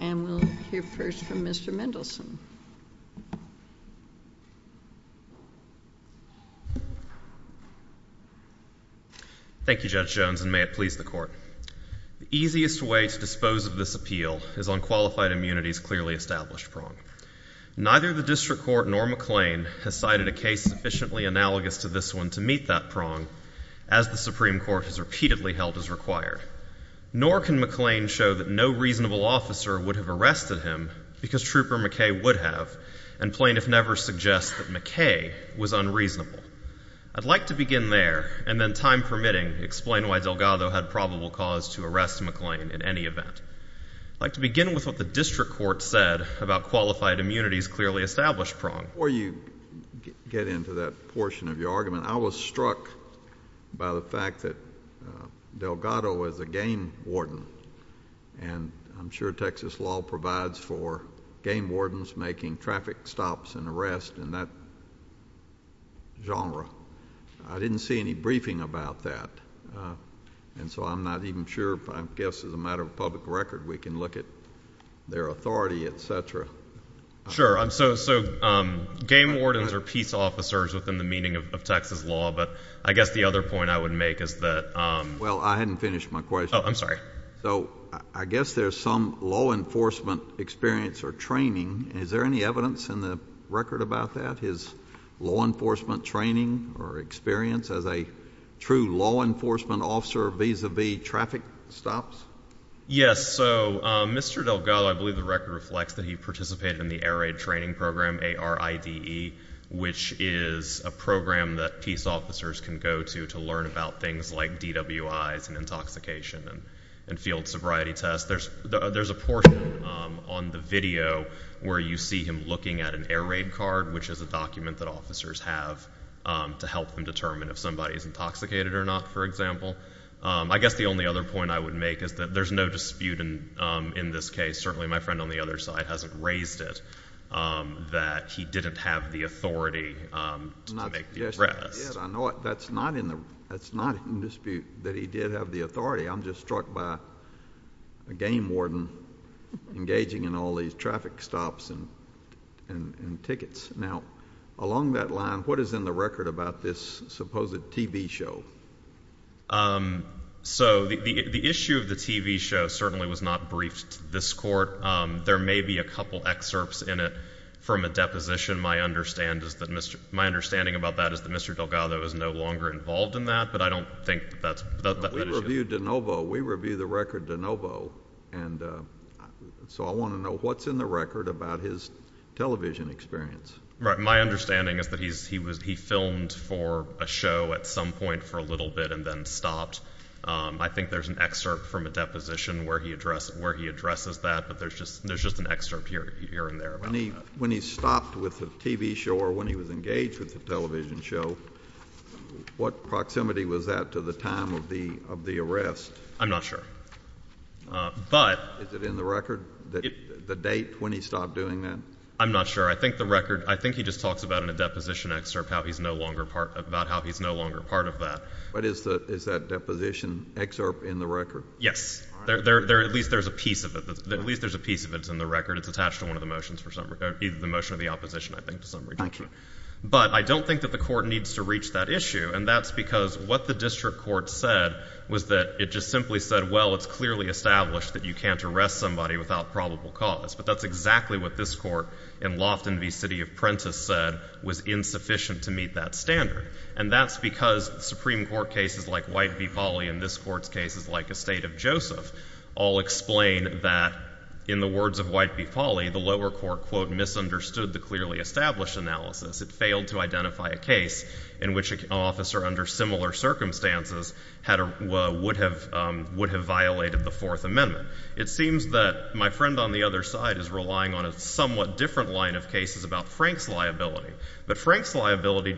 and we'll hear first from Mr. Mendelsohn. Thank you Judge Jones and may it please the Court. The easiest way to dispose of this appeal is on qualified immunity's clearly established prong. Neither the District Court nor McClain has cited a case sufficiently analogous to this one to meet that prong, as the Supreme Court has repeatedly held is required. Nor can McClain show that no reasonable officer would have arrested him because Trooper McKay would have, and plain if never suggest that McKay was unreasonable. I'd like to begin there and then time permitting explain why Delgado had probable cause to arrest McClain in any event. I'd like to begin with what the District Court said about qualified immunity's clearly established prong. Before you get into that portion of your argument, I was struck by the fact that Delgado is a game warden and I'm sure Texas law provides for game wardens making traffic stops and arrests in that genre. I didn't see any briefing about that and so I'm not even sure, I guess as a matter of public record, we can look at their authority, et cetera. Sure, so game wardens are peace officers within the meaning of Texas law, but I guess the other point I would make is that... Well, I hadn't finished my question. Oh, I'm sorry. So I guess there's some law enforcement experience or training. Is there any evidence in the record about that, his law enforcement training or experience as a true law enforcement officer vis-a-vis traffic stops? Yes, so Mr. Delgado, I believe the record reflects that he participated in the Air Raid Training Program, ARIDE, which is a program that peace officers can go to to learn about things like DWIs and intoxication and field sobriety tests. There's a portion on the video where you see him looking at an air raid card, which is a document that officers have to help them determine if somebody is intoxicated or not, for example. I guess the only other point I would make is that there's no dispute in this case. Certainly my friend on the other side hasn't raised it, that he didn't have the authority to make the arrest. I know it. That's not in dispute that he did have the authority. I'm just struck by a game warden engaging in all these traffic stops and tickets. Now, along that line, what is in the record about this supposed TV show? So the issue of the TV show certainly was not briefed to this court. There may be a couple excerpts in it from a deposition. My understanding about that is that Mr. Delgado is no longer involved in that, but I don't think that's the issue. We reviewed the record de novo, and so I want to know what's in the record about his television experience. Right. My understanding is that he filmed for a show at some point for a little bit and then stopped. I think there's an excerpt from a deposition where he addresses that, but there's just an excerpt here and there about that. When he stopped with the TV show or when he was engaged with the television show, what proximity was that to the time of the arrest? I'm not sure. But — Is it in the record, the date when he stopped doing that? I'm not sure. I think the record — I think he just talks about in a deposition excerpt how he's no longer part — about how he's no longer part of that. But is that deposition excerpt in the record? Yes. All right. At least there's a piece of it. At least there's a piece of it that's in the record. It's attached to one of the motions for some — the motion of the opposition, I think, to some degree. Gotcha. But I don't think that the court needs to reach that issue, and that's because what the district court said was that it just simply said, well, it's clearly established that you can't arrest somebody without probable cause. But that's exactly what this Court in Lofton v. City of Prentiss said was insufficient to meet that standard. And that's because Supreme Court cases like White v. Foley and this Court's cases like Estate of Joseph all explain that in the words of White v. Foley, the lower court, quote, misunderstood the clearly established analysis. It failed to identify a case in which an officer under similar circumstances would have violated the Fourth Amendment. It seems that my friend on the other side is relying on a somewhat different line of cases about Frank's liability. But Frank's liability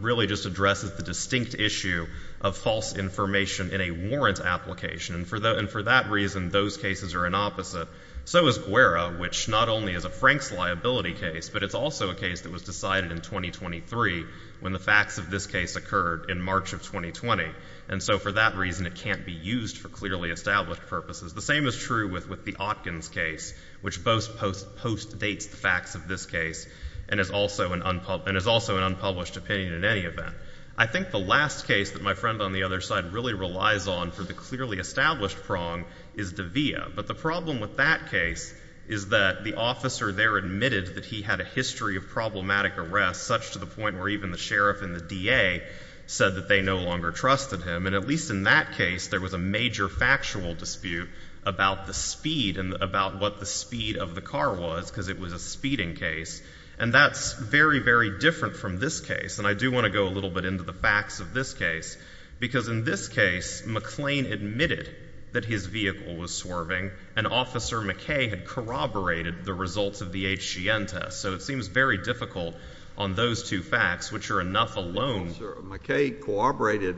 really just addresses the distinct issue of false information in a warrant application. And for that reason, those cases are an opposite. So is Guerra, which not only is a Frank's liability case, but it's also a case that was decided in 2023 when the facts of this case occurred in March of 2020. And so for that reason, it can't be used for clearly established purposes. The same is true with the Atkins case, which both postdates the facts of this case and is also an unpublished opinion in any event. I think the last case that my friend on the other side really relies on for the clearly established prong is De'Vea. But the problem with that case is that the officer there admitted that he had a history of problematic arrest, such to the point where even the sheriff and the DA said that they no longer trusted him. And at least in that case, there was a major factual dispute about the speed and about what the speed of the car was, because it was a speeding case. And that's very, very different from this case. And I do want to go a little bit into the facts of this case, because in this case, McClain admitted that his vehicle was swerving, and Officer McKay had corroborated the results of the HGN test. So it seems very difficult on those two facts, which are enough alone. The officer, McKay, corroborated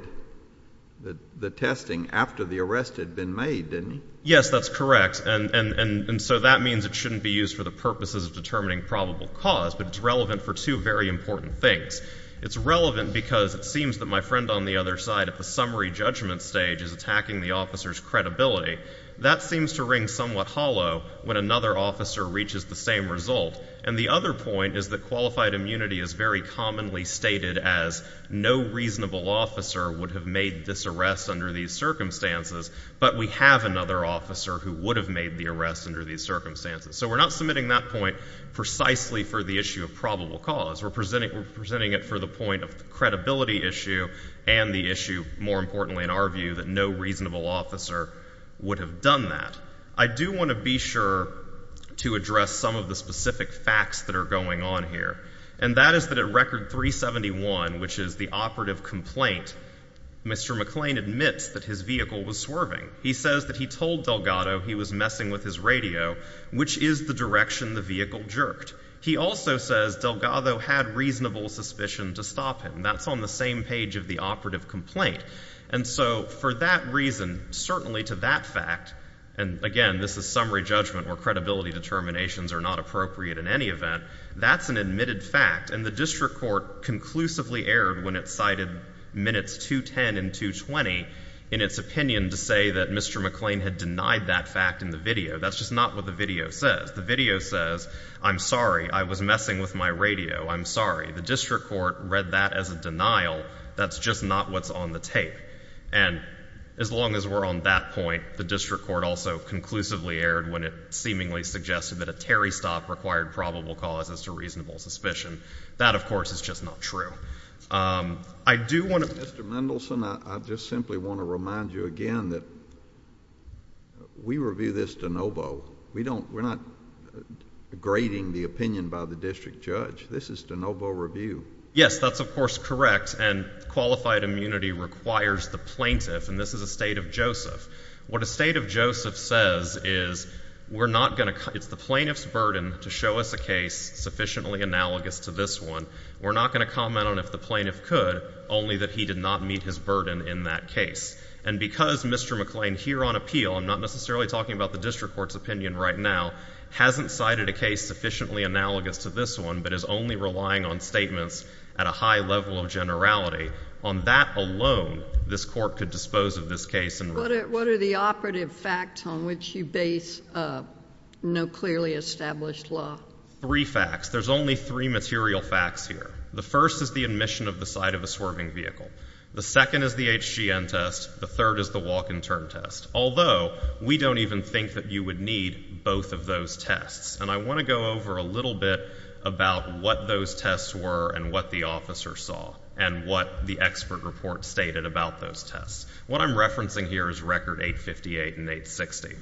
the testing after the arrest had been made, didn't he? Yes, that's correct. And so that means it shouldn't be used for the purposes of determining probable cause, but it's relevant for two very important things. It's relevant because it seems that my friend on the other side at the summary judgment stage is attacking the officer's credibility. That seems to ring somewhat hollow when another officer reaches the same result. And the other point is that qualified immunity is very commonly stated as no reasonable officer would have made this arrest under these circumstances, but we have another officer who would have made the arrest under these circumstances. So we're not submitting that point precisely for the issue of probable cause. We're presenting it for the point of the credibility issue and the issue, more importantly in our view, that no reasonable officer would have done that. I do want to be sure to address some of the specific facts that are going on here, and that is that at Record 371, which is the operative complaint, Mr. McClain admits that his vehicle was swerving. He says that he told Delgado he was messing with his radio, which is the direction the vehicle jerked. He also says Delgado had reasonable suspicion to stop him. That's on the same page of the operative complaint. And so for that reason, certainly to that fact, and again, this is summary judgment where credibility determinations are not appropriate in any event, that's an admitted fact, and the district court conclusively erred when it cited minutes 210 and 220 in its opinion to say that Mr. McClain had denied that fact in the video. That's just not what the video says. The video says, I'm sorry, I was messing with my radio. I'm sorry. The district court read that as a denial. That's just not what's on the tape. And as long as we're on that point, the district court also conclusively erred when it seemingly suggested that a Terry stop required probable cause as to reasonable suspicion. That, of course, is just not true. I do want to— Mr. Mendelson, I just simply want to remind you again that we review this de novo. We don't—we're not grading the opinion by the district judge. This is de novo review. Yes, that's of course correct. And qualified immunity requires the plaintiff, and this is a State of Joseph. What a State of Joseph says is we're not going to—it's the plaintiff's burden to show us a case sufficiently analogous to this one. We're not going to comment on if the plaintiff could, only that he did not meet his burden in that case. And because Mr. McClain here on appeal—I'm not necessarily talking about the district court's opinion right now—hasn't cited a case sufficiently analogous to this one, but is only relying on statements at a high level of generality, on that alone, this court could dispose of this case and— What are the operative facts on which you base no clearly established law? Three facts. There's only three material facts here. The first is the admission of the site of a swerving vehicle. The second is the HGN test. The third is the walk-and-turn test. Although, we don't even think that you would need both of those tests. And I want to go over a little bit about what those tests were and what the officer saw and what the expert report stated about those tests. What I'm referencing here is record 858 and 860.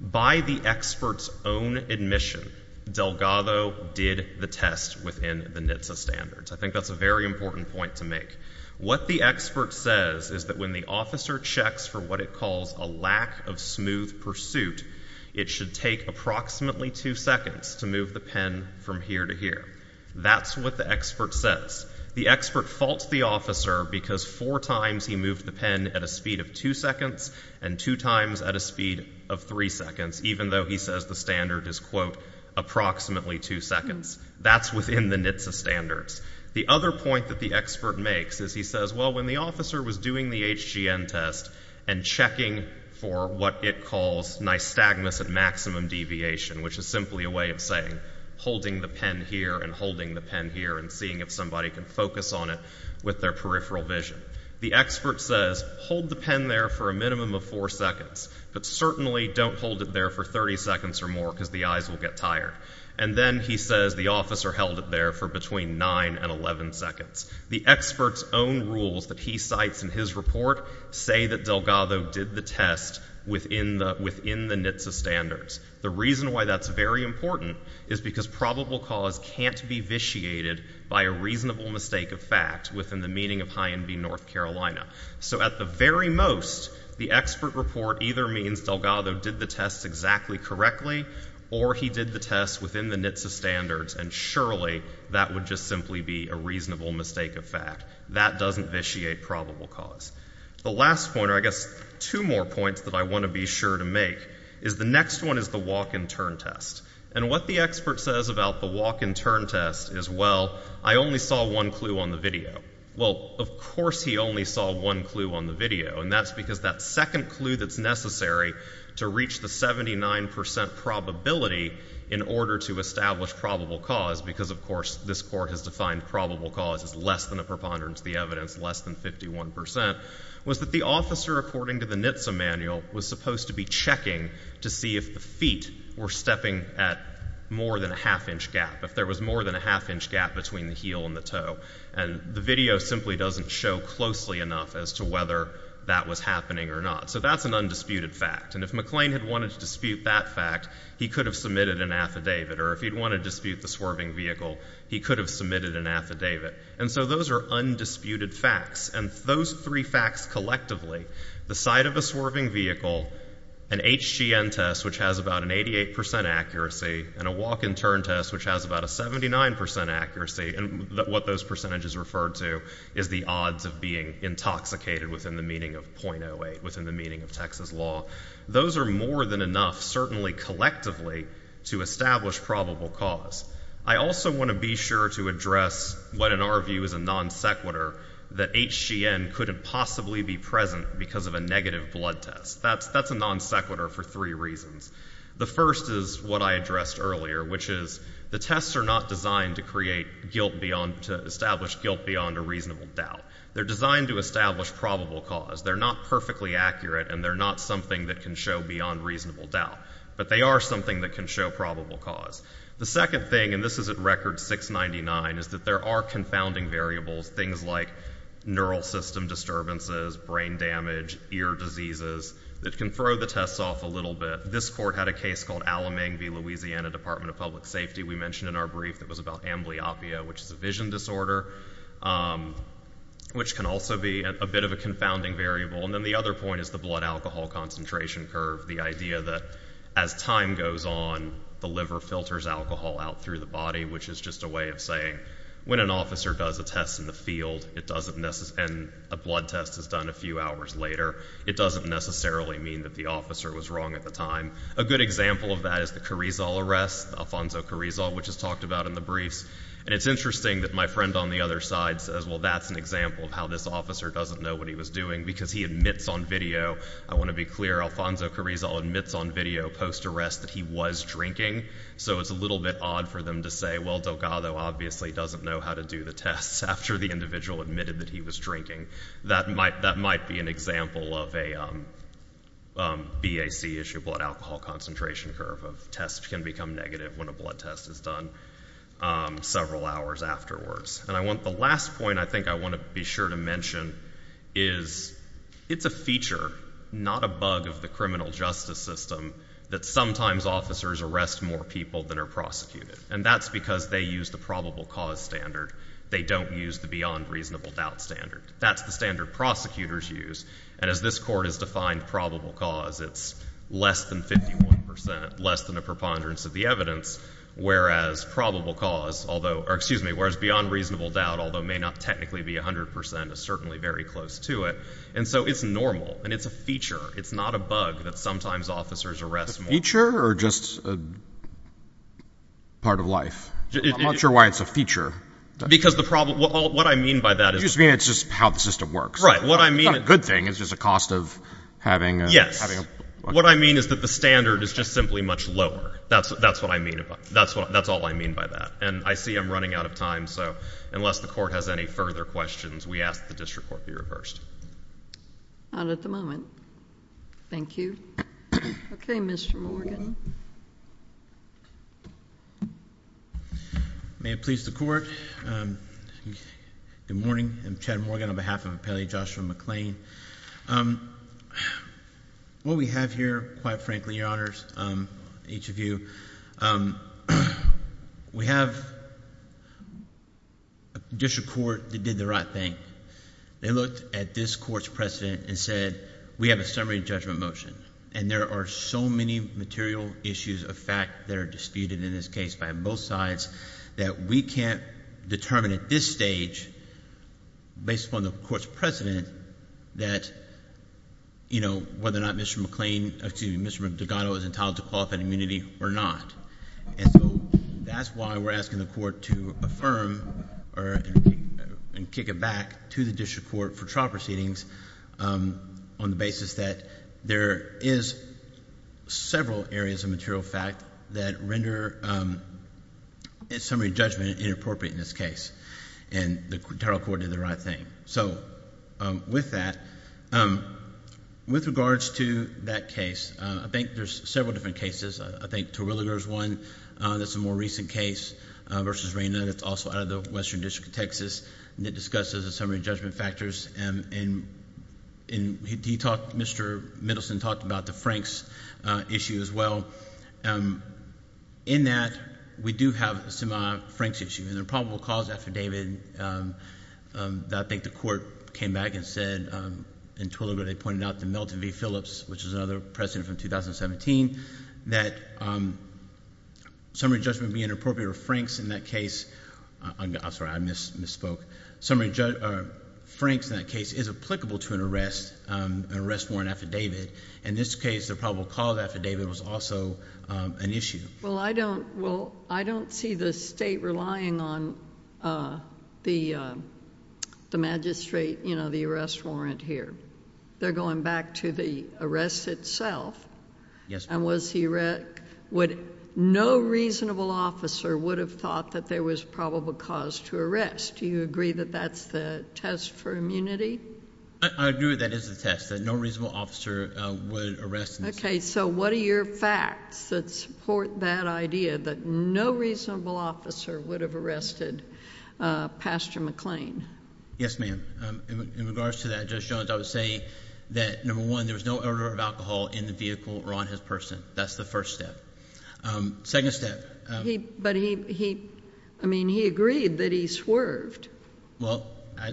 By the expert's own admission, Delgado did the test within the NHTSA standards. I think that's a very important point to make. What the expert says is that when the officer checks for what it calls a lack of smooth pursuit, it should take approximately two seconds to move the pen from here to here. That's what the expert says. The expert faults the officer because four times he moved the pen at a speed of two seconds and two times at a speed of three seconds, even though he says the standard is, quote, approximately two seconds. That's within the NHTSA standards. The other point that the expert makes is he says, well, when the officer was doing the HGN test and checking for what it calls nystagmus at maximum deviation, which is simply a way of saying holding the pen here and holding the pen here and seeing if somebody can focus on it with their peripheral vision. The expert says, hold the pen there for a minimum of four seconds, but certainly don't hold it there for 30 seconds or more because the eyes will get tired. And then he says the officer held it there for between nine and 11 seconds. The expert's own rules that he cites in his report say that Delgado did the test within the NHTSA standards. The reason why that's very important is because probable cause can't be vitiated by a reasonable mistake of fact within the meaning of high NB North Carolina. So at the very most, the expert report either means Delgado did the test exactly correctly or he did the test within the NHTSA standards, and surely that would just simply be a reasonable mistake of fact. That doesn't vitiate probable cause. The last point, or I guess two more points that I want to be sure to make, is the next one is the walk and turn test. And what the expert says about the walk and turn test is, well, I only saw one clue on the video. Well, of course he only saw one clue on the video, and that's because that second clue that's necessary to reach the 79 percent probability in order to establish probable cause, because, of course, this Court has defined probable cause as less than a preponderance of the evidence, less than 51 percent, was that the officer, according to the NHTSA manual, was supposed to be checking to see if the feet were stepping at more than a half inch gap, if there was more than a half inch gap between the heel and the toe. And the video simply doesn't show closely enough as to whether that was happening or not. So that's an undisputed fact. And if McLean had wanted to dispute that fact, he could have submitted an affidavit. Or if he'd wanted to dispute the swerving vehicle, he could have submitted an affidavit. And so those are undisputed facts. And those three facts collectively, the sight of a swerving vehicle, an HGN test, which has about an 88 percent accuracy, and a walk-and-turn test, which has about a 79 percent accuracy, and what those percentages refer to is the odds of being intoxicated within the meaning of .08, within the meaning of Texas law. Those are more than enough, certainly collectively, to establish probable cause. I also want to be sure to address what, in our view, is a non-sequitur, that HGN couldn't possibly be present because of a negative blood test. That's a non-sequitur for three reasons. The first is what I addressed earlier, which is the tests are not designed to create guilt beyond, to establish guilt beyond a reasonable doubt. They're designed to establish probable cause. They're not perfectly accurate, and they're not something that can show beyond reasonable doubt. But they are something that can show probable cause. The second thing, and this is at record 699, is that there are confounding variables, things like neural system disturbances, brain damage, ear diseases, that can throw the tests off a little bit. This court had a case called Alamang v. Louisiana Department of Public Safety. We mentioned in our brief that it was about amblyopia, which is a vision disorder, which can also be a bit of a confounding variable. And then the other point is the blood alcohol concentration curve, the idea that as time goes on, the liver filters alcohol out through the body, which is just a way of saying when an officer does a test in the field, and a blood test is done a few hours later, it doesn't necessarily mean that the officer was wrong at the time. A good example of that is the Carrizal arrest, Alfonso Carrizal, which is talked about in the briefs. And it's interesting that my friend on the other side says, well, that's an example of how this officer doesn't know what he was doing because he admits on video, I want to be clear, Alfonso Carrizal admits on video post-arrest that he was drinking. So it's a little bit odd for them to say, well, Delgado obviously doesn't know how to do the tests after the individual admitted that he was drinking. That might be an example of a BAC issue, blood alcohol concentration curve, of tests can become negative when a blood test is done several hours afterwards. And the last point I think I want to be sure to mention is it's a feature, not a bug of the criminal justice system, that sometimes officers arrest more people than are prosecuted. And that's because they use the probable cause standard. They don't use the beyond reasonable doubt standard. That's the standard prosecutors use. And as this court has defined probable cause, it's less than 51 percent, less than a preponderance of the evidence, whereas probable cause, although – or excuse me, whereas beyond reasonable doubt, although may not technically be 100 percent, is certainly very close to it. And so it's normal and it's a feature. It's not a bug that sometimes officers arrest more. Is it a feature or just a part of life? I'm not sure why it's a feature. Because the problem – what I mean by that is – You just mean it's just how the system works. Right. What I mean – It's not a good thing. It's just a cost of having a – What I mean is that the standard is just simply much lower. That's what I mean. That's all I mean by that. And I see I'm running out of time, so unless the court has any further questions, we ask the district court be reversed. Not at the moment. Thank you. Okay, Mr. Morgan. May it please the Court. Good morning. I'm Chad Morgan on behalf of Appellee Joshua McClain. What we have here, quite frankly, Your Honors, each of you, we have a district court that did the right thing. They looked at this court's precedent and said, we have a summary judgment motion, and there are so many material issues of fact that are disputed in this case by both sides that we can't determine at this stage, based upon the court's precedent, that whether or not Mr. McClain – excuse me – Mr. Dugato is entitled to qualified immunity or not. That's why we're asking the court to affirm and kick it back to the district court for trial proceedings on the basis that there is several areas of material fact that render a summary judgment inappropriate in this case, and the federal court did the right thing. With that, with regards to that case, I think there's several different cases. I think Terwilliger is one that's a more recent case versus Reyna that's also out of the Western District of Texas, and it discusses the summary judgment factors, and Mr. Middleton talked about the Franks issue as well. In that, we do have some Franks issues, and there are probable cause affidavit that I think the court came back and said in Terwilliger they pointed out to Milton V. Phillips, which is another president from 2017, that summary judgment being inappropriate for Franks in that case – I'm sorry, I misspoke. Summary judgment for Franks in that case is applicable to an arrest warrant affidavit. In this case, the probable cause affidavit was also an issue. Well, I don't see the state relying on the magistrate, you know, the arrest warrant here. They're going back to the arrest itself. Yes, ma'am. And was he – no reasonable officer would have thought that there was probable cause to arrest. Do you agree that that's the test for immunity? I agree that is the test, that no reasonable officer would arrest. Okay, so what are your facts that support that idea, that no reasonable officer would have arrested Pastor McLean? Yes, ma'am. In regards to that, Judge Jones, I would say that, number one, there was no odor of alcohol in the vehicle or on his person. That's the first step. Second step. But he – I mean he agreed that he swerved. Well,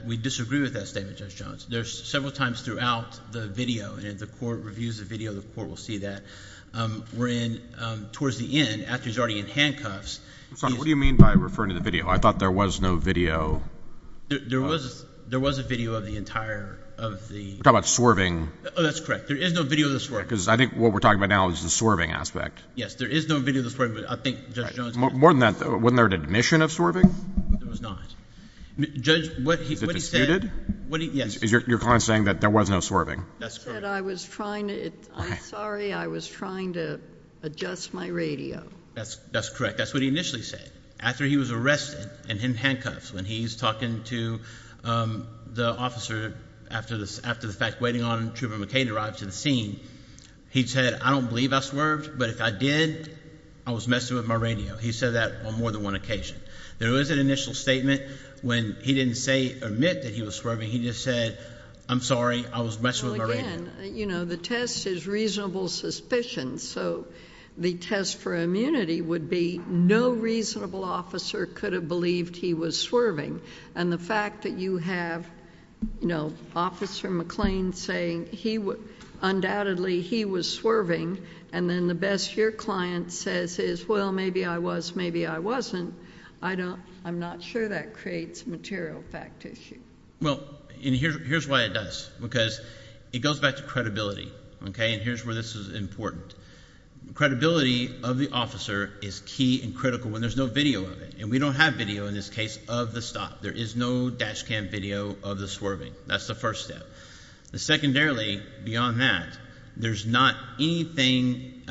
we disagree with that statement, Judge Jones. There's several times throughout the video, and if the court reviews the video, the court will see that. We're in – towards the end, after he's already in handcuffs. What do you mean by referring to the video? I thought there was no video. There was a video of the entire – of the – You're talking about swerving. Oh, that's correct. There is no video of the swerving. Because I think what we're talking about now is the swerving aspect. Yes, there is no video of the swerving, but I think Judge Jones – More than that, wasn't there an admission of swerving? There was not. Judge, what he said – Was it disputed? Yes. Is your client saying that there was no swerving? That's correct. He said, I was trying to – I'm sorry, I was trying to adjust my radio. That's correct. That's what he initially said. After he was arrested and in handcuffs, when he's talking to the officer after the fact, waiting on Truman McCain to arrive to the scene, he said, I don't believe I swerved, but if I did, I was messing with my radio. He said that on more than one occasion. There was an initial statement when he didn't say or admit that he was swerving. He just said, I'm sorry, I was messing with my radio. Well, again, you know, the test is reasonable suspicion, so the test for immunity would be no reasonable officer could have believed he was swerving, and the fact that you have Officer McClain saying he undoubtedly was swerving and then the best your client says is, well, maybe I was, maybe I wasn't, I'm not sure that creates a material fact issue. Well, and here's why it does, because it goes back to credibility, and here's where this is important. Credibility of the officer is key and critical when there's no video of it, and we don't have video in this case of the stop. There is no dash cam video of the swerving. That's the first step. Secondarily, beyond that, there's not anything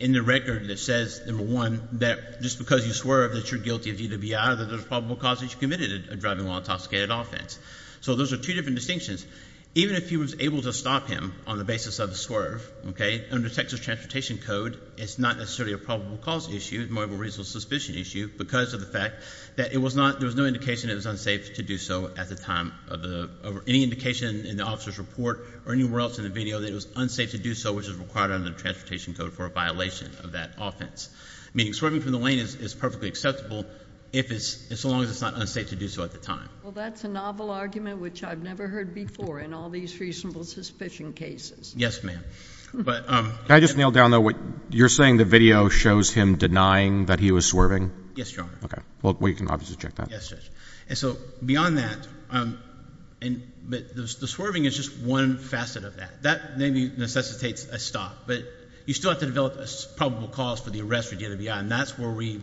in the record that says, number one, that just because you swerved that you're guilty of DWI, that there's probable cause that you committed a driving while intoxicated offense. So those are two different distinctions. Even if he was able to stop him on the basis of a swerve, okay, under Texas Transportation Code, it's not necessarily a probable cause issue. It's more of a reasonable suspicion issue because of the fact that it was not, there was no indication it was unsafe to do so at the time of the, any indication in the officer's report or anywhere else in the video that it was unsafe to do so, which is required under the Transportation Code for a violation of that offense, meaning swerving from the lane is perfectly acceptable if it's, so long as it's not unsafe to do so at the time. Well, that's a novel argument which I've never heard before in all these reasonable suspicion cases. Yes, ma'am. Can I just nail down, though, what you're saying the video shows him denying that he was swerving? Yes, Your Honor. Okay. Well, we can obviously check that. Yes, Judge. And so beyond that, the swerving is just one facet of that. That maybe necessitates a stop, but you still have to develop a probable cause for the arrest or DWI, and that's where we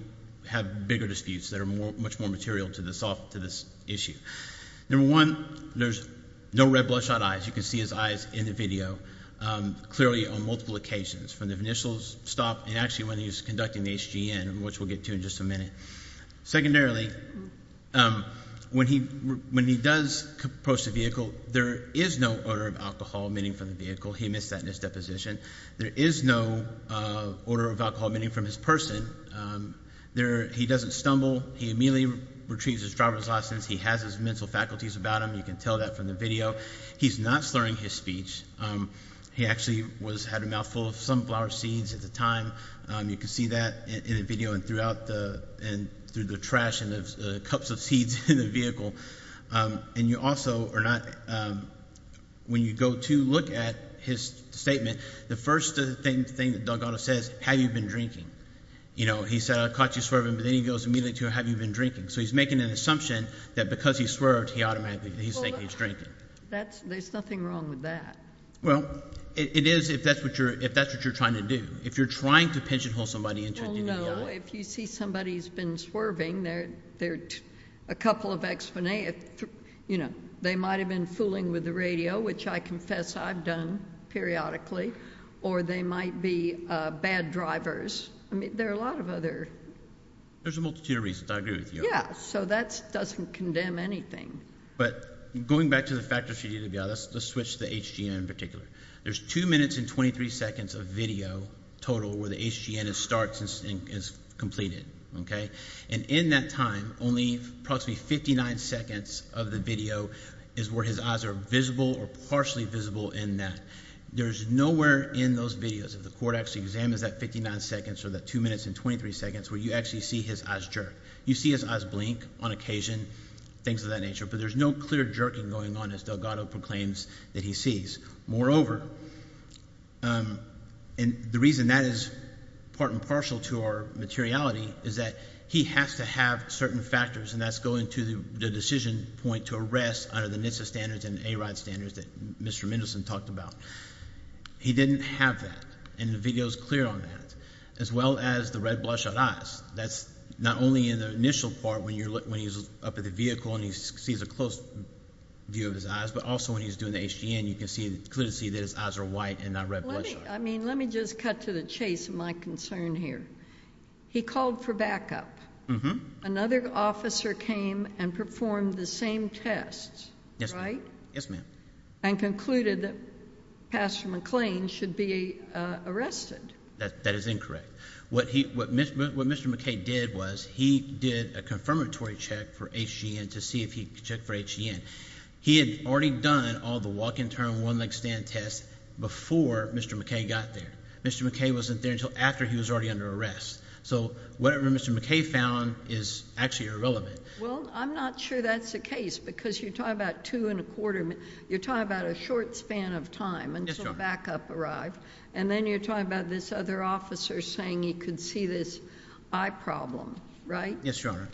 have bigger disputes that are much more material to this issue. Number one, there's no red bloodshot eyes. You can see his eyes in the video clearly on multiple occasions, from the initial stop and actually when he was conducting the HGN, which we'll get to in just a minute. Secondarily, when he does approach the vehicle, there is no odor of alcohol emitting from the vehicle. He missed that in his deposition. There is no odor of alcohol emitting from his person. He doesn't stumble. He immediately retrieves his driver's license. He has his mental faculties about him. You can tell that from the video. He's not slurring his speech. He actually had a mouthful of sunflower seeds at the time. You can see that in the video and throughout the trash and the cups of seeds in the vehicle. And you also are not, when you go to look at his statement, the first thing that Doug Otto says, have you been drinking? He said, I caught you swerving, but then he goes immediately to, have you been drinking? So he's making an assumption that because he swerved, he automatically thinks he's drinking. There's nothing wrong with that. Well, it is if that's what you're trying to do. If you're trying to pigeonhole somebody into a DWI. If you see somebody who's been swerving, there are a couple of explanations. They might have been fooling with the radio, which I confess I've done periodically, or they might be bad drivers. I mean, there are a lot of other. There's a multitude of reasons. I agree with you. Yeah, so that doesn't condemn anything. But going back to the fact of the DWI, let's switch to the HGN in particular. There's 2 minutes and 23 seconds of video total where the HGN starts and is completed. And in that time, only approximately 59 seconds of the video is where his eyes are visible or partially visible in that. There's nowhere in those videos, if the court actually examines that 59 seconds or that 2 minutes and 23 seconds where you actually see his eyes jerk. You see his eyes blink on occasion, things of that nature. But there's no clear jerking going on as Doug Otto proclaims that he sees. Moreover, and the reason that is part and partial to our materiality, is that he has to have certain factors, and that's going to the decision point to arrest under the NHTSA standards and ARIDE standards that Mr. Mendelson talked about. He didn't have that, and the video is clear on that, as well as the red bloodshot eyes. That's not only in the initial part when he's up at the vehicle and he sees a close view of his eyes, but also when he's doing the HGN, you can clearly see that his eyes are white and not red bloodshot. Let me just cut to the chase of my concern here. He called for backup. Another officer came and performed the same tests, right? Yes, ma'am. And concluded that Pastor McLean should be arrested. That is incorrect. What Mr. McKay did was he did a confirmatory check for HGN to see if he could check for HGN. He had already done all the walk and turn, one leg stand tests before Mr. McKay got there. Mr. McKay wasn't there until after he was already under arrest. So whatever Mr. McKay found is actually irrelevant. Well, I'm not sure that's the case because you're talking about two and a quarter minutes. You're talking about a short span of time until backup arrived, and then you're talking about this other officer saying he could see this eye problem, right? Yes, Your Honor.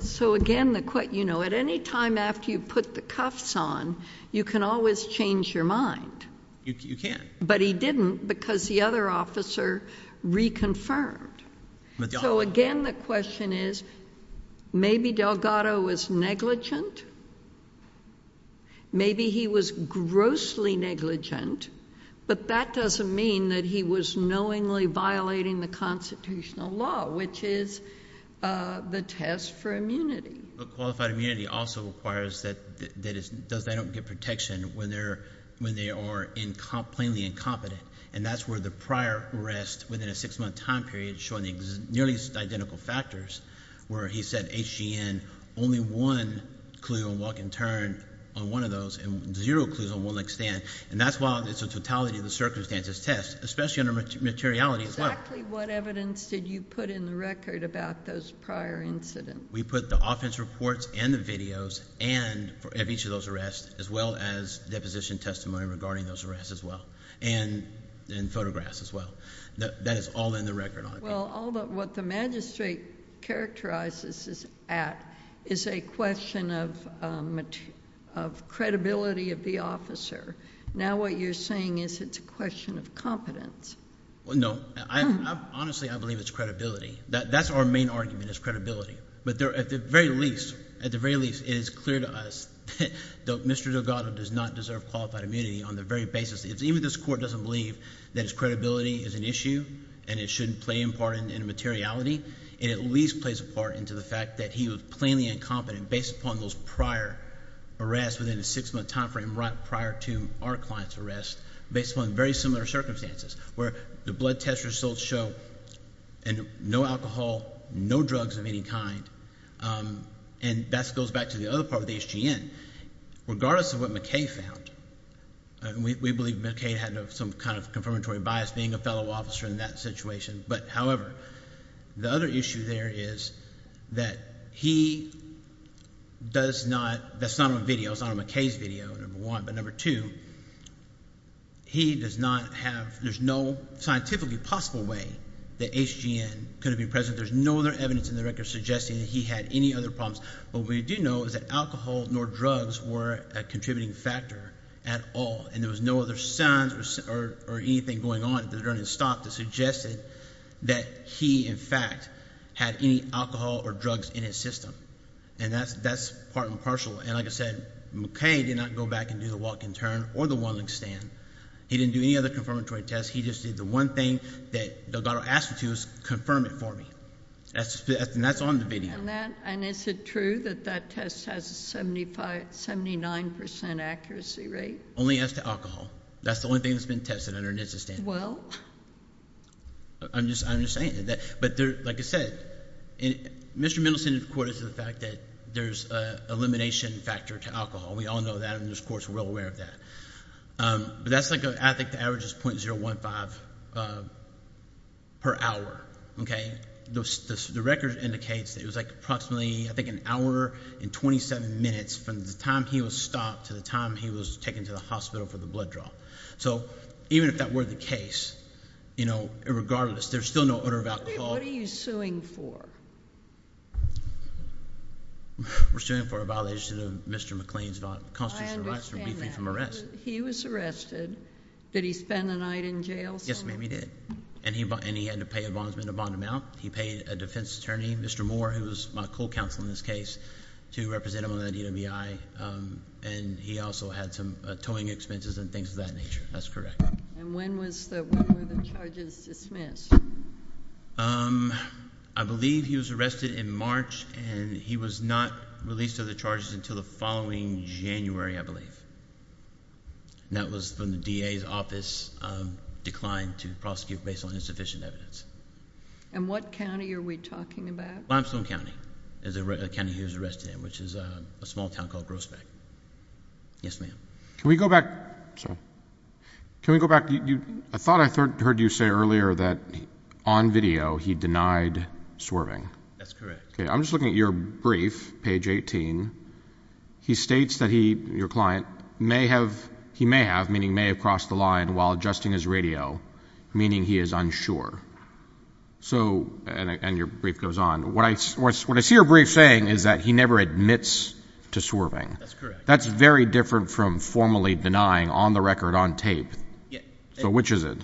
So, again, at any time after you put the cuffs on, you can always change your mind. You can. But he didn't because the other officer reconfirmed. So, again, the question is maybe Delgado was negligent. Maybe he was grossly negligent, but that doesn't mean that he was knowingly violating the constitutional law, which is the test for immunity. Qualified immunity also requires that they don't get protection when they are plainly incompetent, and that's where the prior arrest within a six-month time period showing nearly identical factors where he said HGN, only one clue on walk and turn on one of those and zero clues on one leg stand. And that's why it's a totality of the circumstances test, especially under materiality as well. Exactly what evidence did you put in the record about those prior incidents? We put the offense reports and the videos of each of those arrests as well as deposition testimony regarding those arrests as well and photographs as well. That is all in the record on it. Well, what the magistrate characterizes at is a question of credibility of the officer. Now what you're saying is it's a question of competence. No. Honestly, I believe it's credibility. That's our main argument is credibility. But at the very least, it is clear to us that Mr. Delgado does not deserve qualified immunity on the very basis. Even if this court doesn't believe that his credibility is an issue and it shouldn't play a part in the materiality, it at least plays a part into the fact that he was plainly incompetent based upon those prior arrests within a six-month time frame prior to our client's arrest based upon very similar circumstances where the blood test results show no alcohol, no drugs of any kind, and that goes back to the other part of the HGN. Regardless of what McKay found, we believe McKay had some kind of confirmatory bias being a fellow officer in that situation. But however, the other issue there is that he does not—that's not on video. It's not on McKay's video, number one. But number two, he does not have—there's no scientifically possible way that HGN could have been present. There's no other evidence in the record suggesting that he had any other problems. What we do know is that alcohol nor drugs were a contributing factor at all, and there was no other signs or anything going on during his stop that suggested that he, in fact, had any alcohol or drugs in his system. And that's part and parcel. And like I said, McKay did not go back and do the walk and turn or the one-legged stand. He didn't do any other confirmatory test. He just did the one thing that Delgado asked him to do was confirm it for me. And that's on the video. And that—and is it true that that test has a 79 percent accuracy rate? Only as to alcohol. That's the only thing that's been tested under NHTSA standards. Well? I'm just saying. But like I said, Mr. Middleton in court is to the fact that there's an elimination factor to alcohol. We all know that, and this court's well aware of that. But that's like a—I think the average is .015 per hour. Okay? The record indicates that it was like approximately, I think, an hour and 27 minutes from the time he was stopped to the time he was taken to the hospital for the blood draw. So even if that were the case, you know, regardless, there's still no odor of alcohol. What are you suing for? We're suing for a violation of Mr. McLean's constitutional right to be free from arrest. He was arrested. Did he spend the night in jail? Yes, ma'am, he did. And he had to pay a bondsman to bond him out. He paid a defense attorney, Mr. Moore, who was my co-counsel in this case, to represent him on the DWI. And he also had some towing expenses and things of that nature. That's correct. And when were the charges dismissed? I believe he was arrested in March, and he was not released of the charges until the following January, I believe. And that was when the DA's office declined to prosecute based on insufficient evidence. And what county are we talking about? Limestone County is the county he was arrested in, which is a small town called Grossbeck. Yes, ma'am. Can we go back? Sorry. Can we go back? I thought I heard you say earlier that on video he denied swerving. That's correct. Okay, I'm just looking at your brief, page 18. He states that he, your client, may have, he may have, meaning may have crossed the line while adjusting his radio, meaning he is unsure. So, and your brief goes on. What I see your brief saying is that he never admits to swerving. That's correct. That's very different from formally denying on the record, on tape. So which is it?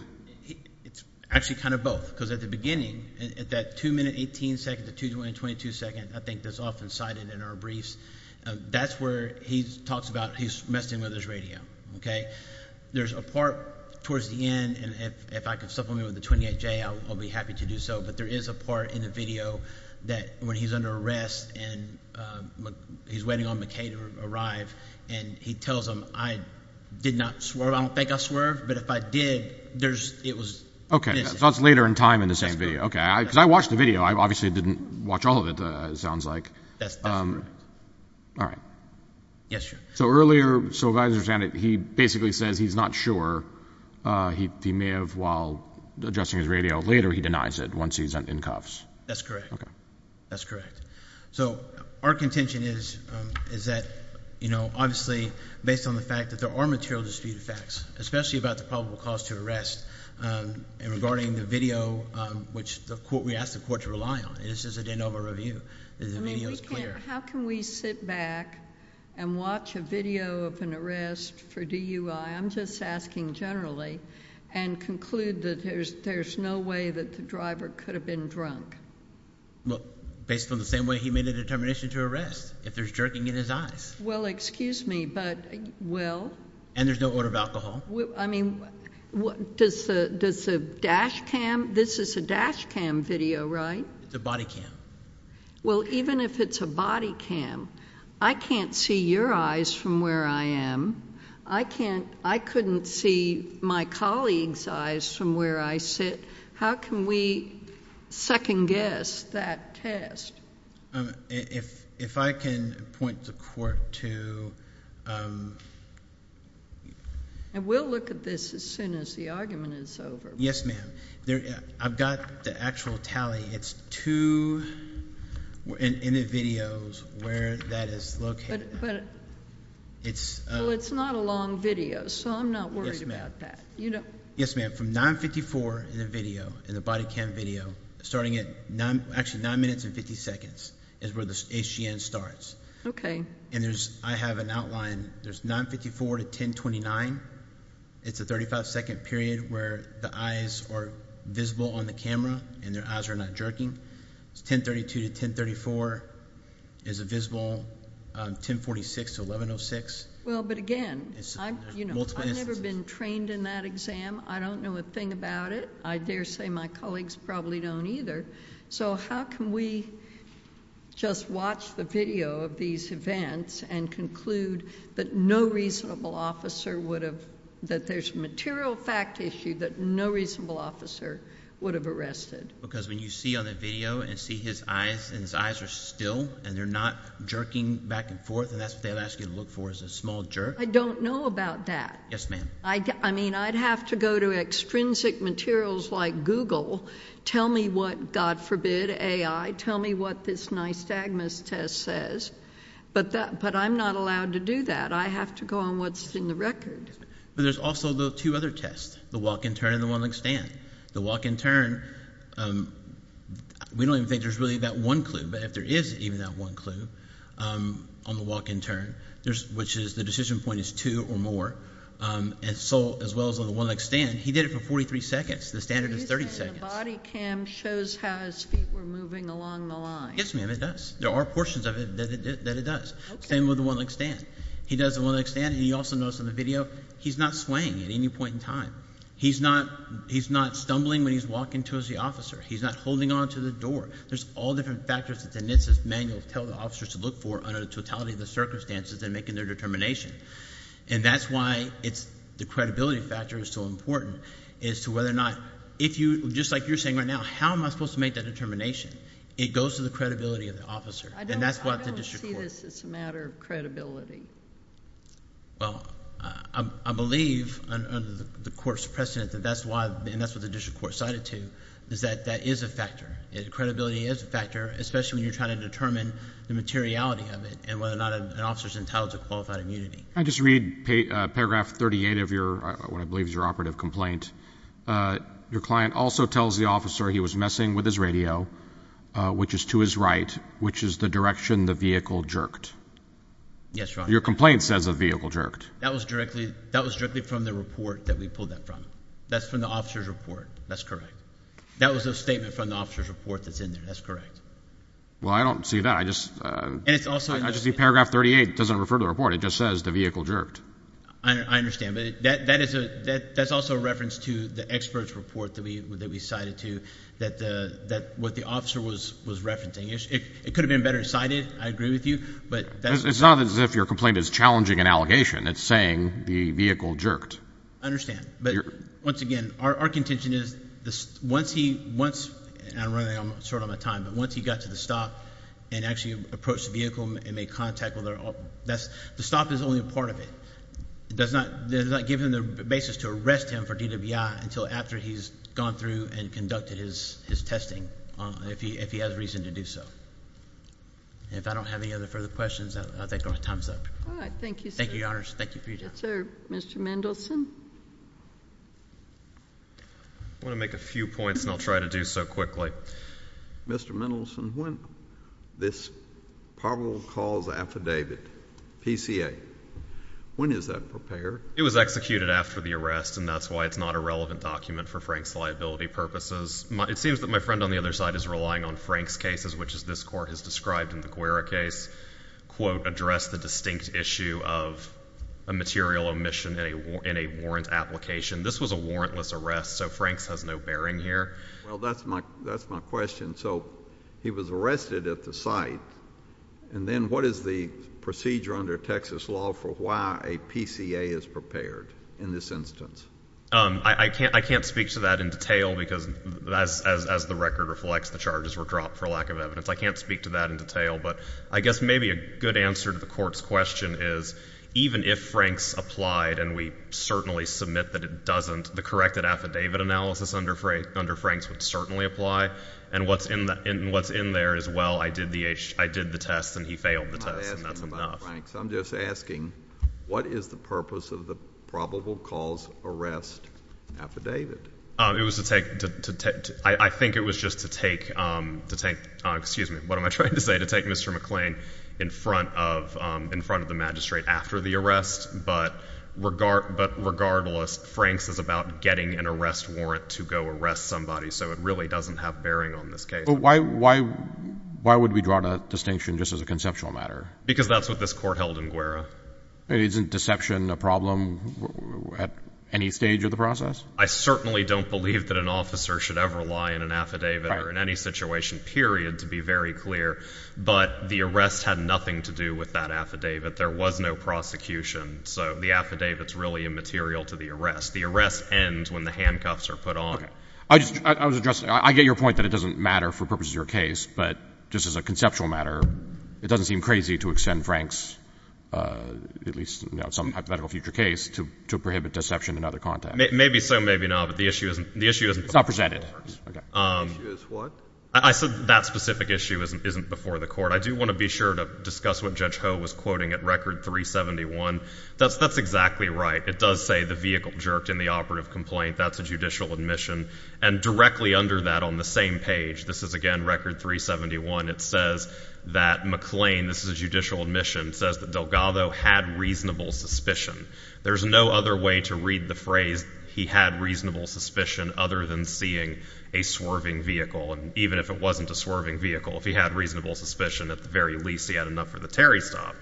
It's actually kind of both. Because at the beginning, at that 2 minute 18 second to 2 minute 22 second, I think that's often cited in our briefs, that's where he talks about he's messing with his radio. Okay? There's a part towards the end, and if I can supplement with the 28J, I'll be happy to do so. But there is a part in the video that when he's under arrest and he's waiting on McKay to arrive, and he tells him, I did not swerve. I don't think I swerved. But if I did, there's, it was. Okay. So that's later in time in the same video. Because I watched the video. I obviously didn't watch all of it, it sounds like. That's correct. All right. Yes, sir. So earlier, so as I understand it, he basically says he's not sure. He may have, while adjusting his radio later, he denies it once he's in cuffs. That's correct. Okay. That's correct. So our contention is that, you know, obviously based on the fact that there are material dispute effects, especially about the probable cause to arrest, and regarding the video, which we ask the court to rely on. It's just a de novo review. The video is clear. How can we sit back and watch a video of an arrest for DUI, I'm just asking generally, and conclude that there's no way that the driver could have been drunk? Well, based on the same way he made a determination to arrest, if there's jerking in his eyes. Well, excuse me, but, well. And there's no order of alcohol. I mean, does the dash cam, this is a dash cam video, right? It's a body cam. Well, even if it's a body cam, I can't see your eyes from where I am. I can't, I couldn't see my colleague's eyes from where I sit. How can we second guess that test? If I can point the court to... And we'll look at this as soon as the argument is over. Yes, ma'am. I've got the actual tally. It's two videos where that is located. Well, it's not a long video, so I'm not worried about that. Yes, ma'am. Okay, from 9.54 in the video, in the body cam video, starting at actually 9 minutes and 50 seconds is where the HGN starts. Okay. And I have an outline. There's 9.54 to 10.29. It's a 35-second period where the eyes are visible on the camera and their eyes are not jerking. It's 10.32 to 10.34 is a visible 10.46 to 11.06. Well, but again, I've never been trained in that exam. I don't know a thing about it. I dare say my colleagues probably don't either. So how can we just watch the video of these events and conclude that no reasonable officer would have... that there's a material fact issue that no reasonable officer would have arrested? Because when you see on the video and see his eyes, and his eyes are still and they're not jerking back and forth, and that's what they'll ask you to look for is a small jerk. I don't know about that. Yes, ma'am. I mean, I'd have to go to extrinsic materials like Google, tell me what, God forbid, AI, tell me what this nystagmus test says, but I'm not allowed to do that. I have to go on what's in the record. But there's also the two other tests, the walk and turn and the one-legged stand. The walk and turn, we don't even think there's really that one clue, but if there is even that one clue on the walk and turn, which is the decision point is two or more, as well as on the one-legged stand, he did it for 43 seconds. The standard is 30 seconds. The body cam shows how his feet were moving along the line. Yes, ma'am, it does. There are portions of it that it does. Same with the one-legged stand. He does the one-legged stand, and you also notice on the video, he's not swaying at any point in time. He's not stumbling when he's walking towards the officer. He's not holding on to the door. There's all different factors that the NHTSA's manuals tell the officers to look for under the totality of the circumstances in making their determination, and that's why the credibility factor is so important as to whether or not if you, just like you're saying right now, how am I supposed to make that determination? It goes to the credibility of the officer, and that's what the district court. I don't see this as a matter of credibility. Well, I believe under the court's precedent that that's why, and that's what the district court cited too, is that that is a factor. Credibility is a factor, especially when you're trying to determine the materiality of it and whether or not an officer's entitled to qualified immunity. I just read paragraph 38 of what I believe is your operative complaint. Your client also tells the officer he was messing with his radio, which is to his right, which is the direction the vehicle jerked. Yes, Your Honor. Your complaint says the vehicle jerked. That was directly from the report that we pulled that from. That's from the officer's report. That's correct. That was a statement from the officer's report that's in there. That's correct. Well, I don't see that. I just see paragraph 38. It doesn't refer to the report. It just says the vehicle jerked. I understand, but that's also a reference to the expert's report that we cited too, that what the officer was referencing. It could have been better cited. I agree with you. It's not as if your complaint is challenging an allegation. It's saying the vehicle jerked. I understand. Once again, our contention is once he got to the stop and actually approached the vehicle and made contact with her, the stop is only a part of it. It does not give him the basis to arrest him for DWI until after he's gone through and conducted his testing, if he has reason to do so. If I don't have any other further questions, I'll take my time's up. Thank you, sir. Thank you, Your Honors. Thank you for your time. All right, sir. Mr. Mendelson? I want to make a few points, and I'll try to do so quickly. Mr. Mendelson, when this probable cause affidavit, PCA, when is that prepared? It was executed after the arrest, and that's why it's not a relevant document for Frank's liability purposes. It seems that my friend on the other side is relying on Frank's cases, which, as this Court has described in the Guerra case, quote, address the distinct issue of a material omission in a warrant application. This was a warrantless arrest, so Frank's has no bearing here. Well, that's my question. So he was arrested at the site, and then what is the procedure under Texas law for why a PCA is prepared in this instance? I can't speak to that in detail, because as the record reflects, the charges were dropped for lack of evidence. I can't speak to that in detail, but I guess maybe a good answer to the Court's question is even if Frank's applied, and we certainly submit that it doesn't, the corrected affidavit analysis under Frank's would certainly apply, and what's in there is, well, I did the test, and he failed the test, and that's enough. Frank, I'm just asking, what is the purpose of the probable cause arrest affidavit? It was to take, I think it was just to take, excuse me, what am I trying to say, to take Mr. McClain in front of the magistrate after the arrest, but regardless, Frank's is about getting an arrest warrant to go arrest somebody, so it really doesn't have bearing on this case. But why would we draw that distinction just as a conceptual matter? Because that's what this Court held in Guerra. Isn't deception a problem at any stage of the process? I certainly don't believe that an officer should ever lie in an affidavit or in any situation, period, to be very clear, but the arrest had nothing to do with that affidavit. There was no prosecution, so the affidavit's really immaterial to the arrest. The arrests end when the handcuffs are put on. I was addressing, I get your point that it doesn't matter for purposes of your case, but just as a conceptual matter, it doesn't seem crazy to extend Frank's, at least some hypothetical future case, to prohibit deception in other contexts. Maybe so, maybe not, but the issue isn't before the court. It's not presented. The issue is what? I said that specific issue isn't before the court. I do want to be sure to discuss what Judge Ho was quoting at Record 371. That's exactly right. It does say the vehicle jerked in the operative complaint. That's a judicial admission. And directly under that on the same page, this is, again, Record 371. It says that McLean, this is a judicial admission, says that Delgado had reasonable suspicion. There's no other way to read the phrase he had reasonable suspicion other than seeing a swerving vehicle, even if it wasn't a swerving vehicle. If he had reasonable suspicion, at the very least he had enough for the Terry stop.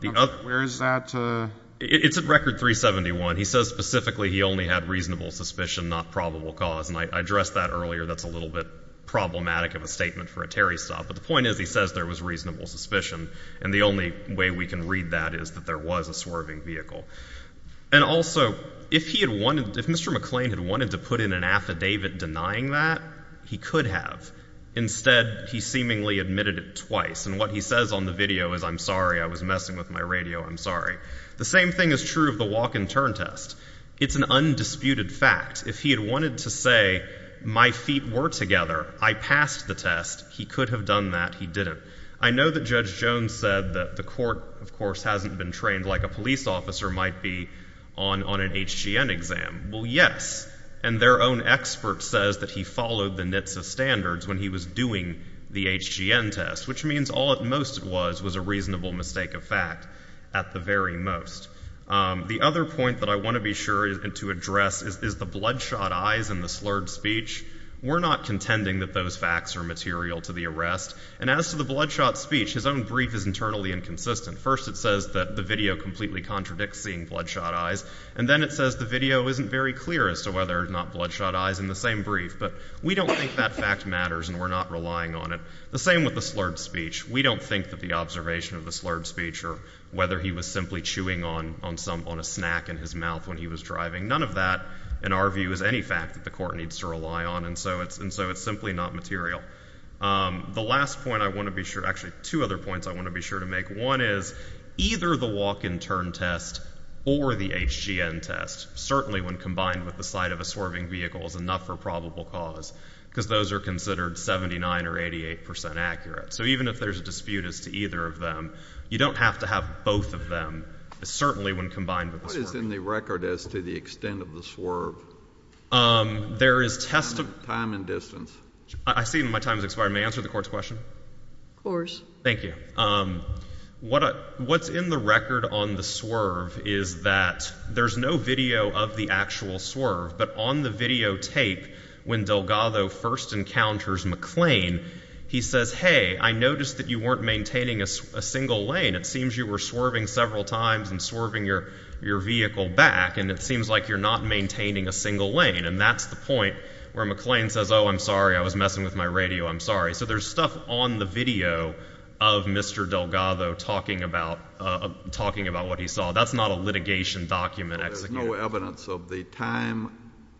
Where is that? It's at Record 371. He says specifically he only had reasonable suspicion, not probable cause. And I addressed that earlier. That's a little bit problematic of a statement for a Terry stop. But the point is he says there was reasonable suspicion, and the only way we can read that is that there was a swerving vehicle. And also, if he had wanted, if Mr. McLean had wanted to put in an affidavit denying that, he could have. Instead, he seemingly admitted it twice. And what he says on the video is, I'm sorry, I was messing with my radio, I'm sorry. The same thing is true of the walk and turn test. It's an undisputed fact. If he had wanted to say my feet were together, I passed the test, he could have done that, he didn't. I know that Judge Jones said that the court, of course, hasn't been trained like a police officer might be on an HGN exam. Well, yes, and their own expert says that he followed the NHTSA standards when he was doing the HGN test, which means all at most it was was a reasonable mistake of fact at the very most. The other point that I want to be sure to address is the bloodshot eyes in the slurred speech. We're not contending that those facts are material to the arrest. And as to the bloodshot speech, his own brief is internally inconsistent. First it says that the video completely contradicts seeing bloodshot eyes, and then it says the video isn't very clear as to whether or not bloodshot eyes in the same brief. But we don't think that fact matters, and we're not relying on it. The same with the slurred speech. We don't think that the observation of the slurred speech or whether he was simply chewing on a snack in his mouth when he was driving, none of that in our view is any fact that the court needs to rely on. And so it's simply not material. The last point I want to be sure – actually, two other points I want to be sure to make. One is either the walk-in turn test or the HGN test, certainly when combined with the sight of a swerving vehicle is enough for probable cause because those are considered 79 or 88 percent accurate. So even if there's a dispute as to either of them, you don't have to have both of them, certainly when combined with the swerving. What is in the record as to the extent of the swerve? There is test of time and distance. I see my time has expired. May I answer the Court's question? Of course. Thank you. What's in the record on the swerve is that there's no video of the actual swerve, but on the videotape when Delgado first encounters McLean, he says, hey, I noticed that you weren't maintaining a single lane. It seems you were swerving several times and swerving your vehicle back, and it seems like you're not maintaining a single lane. And that's the point where McLean says, oh, I'm sorry, I was messing with my radio. I'm sorry. So there's stuff on the video of Mr. Delgado talking about what he saw. That's not a litigation document. There's no evidence of the time,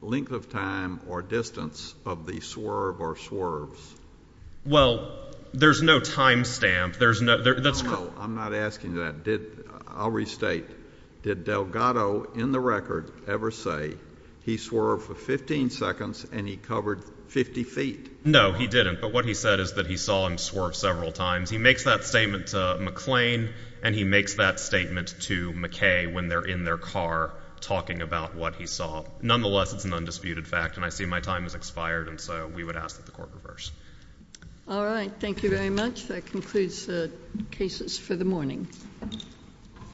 length of time, or distance of the swerve or swerves. Well, there's no time stamp. I'm not asking that. I'll restate. Did Delgado in the record ever say he swerved for 15 seconds and he covered 50 feet? No, he didn't. But what he said is that he saw him swerve several times. He makes that statement to McLean, and he makes that statement to McKay when they're in their car talking about what he saw. Nonetheless, it's an undisputed fact, and I see my time has expired, and so we would ask that the Court reverse. All right. Thank you very much. That concludes the cases for the morning.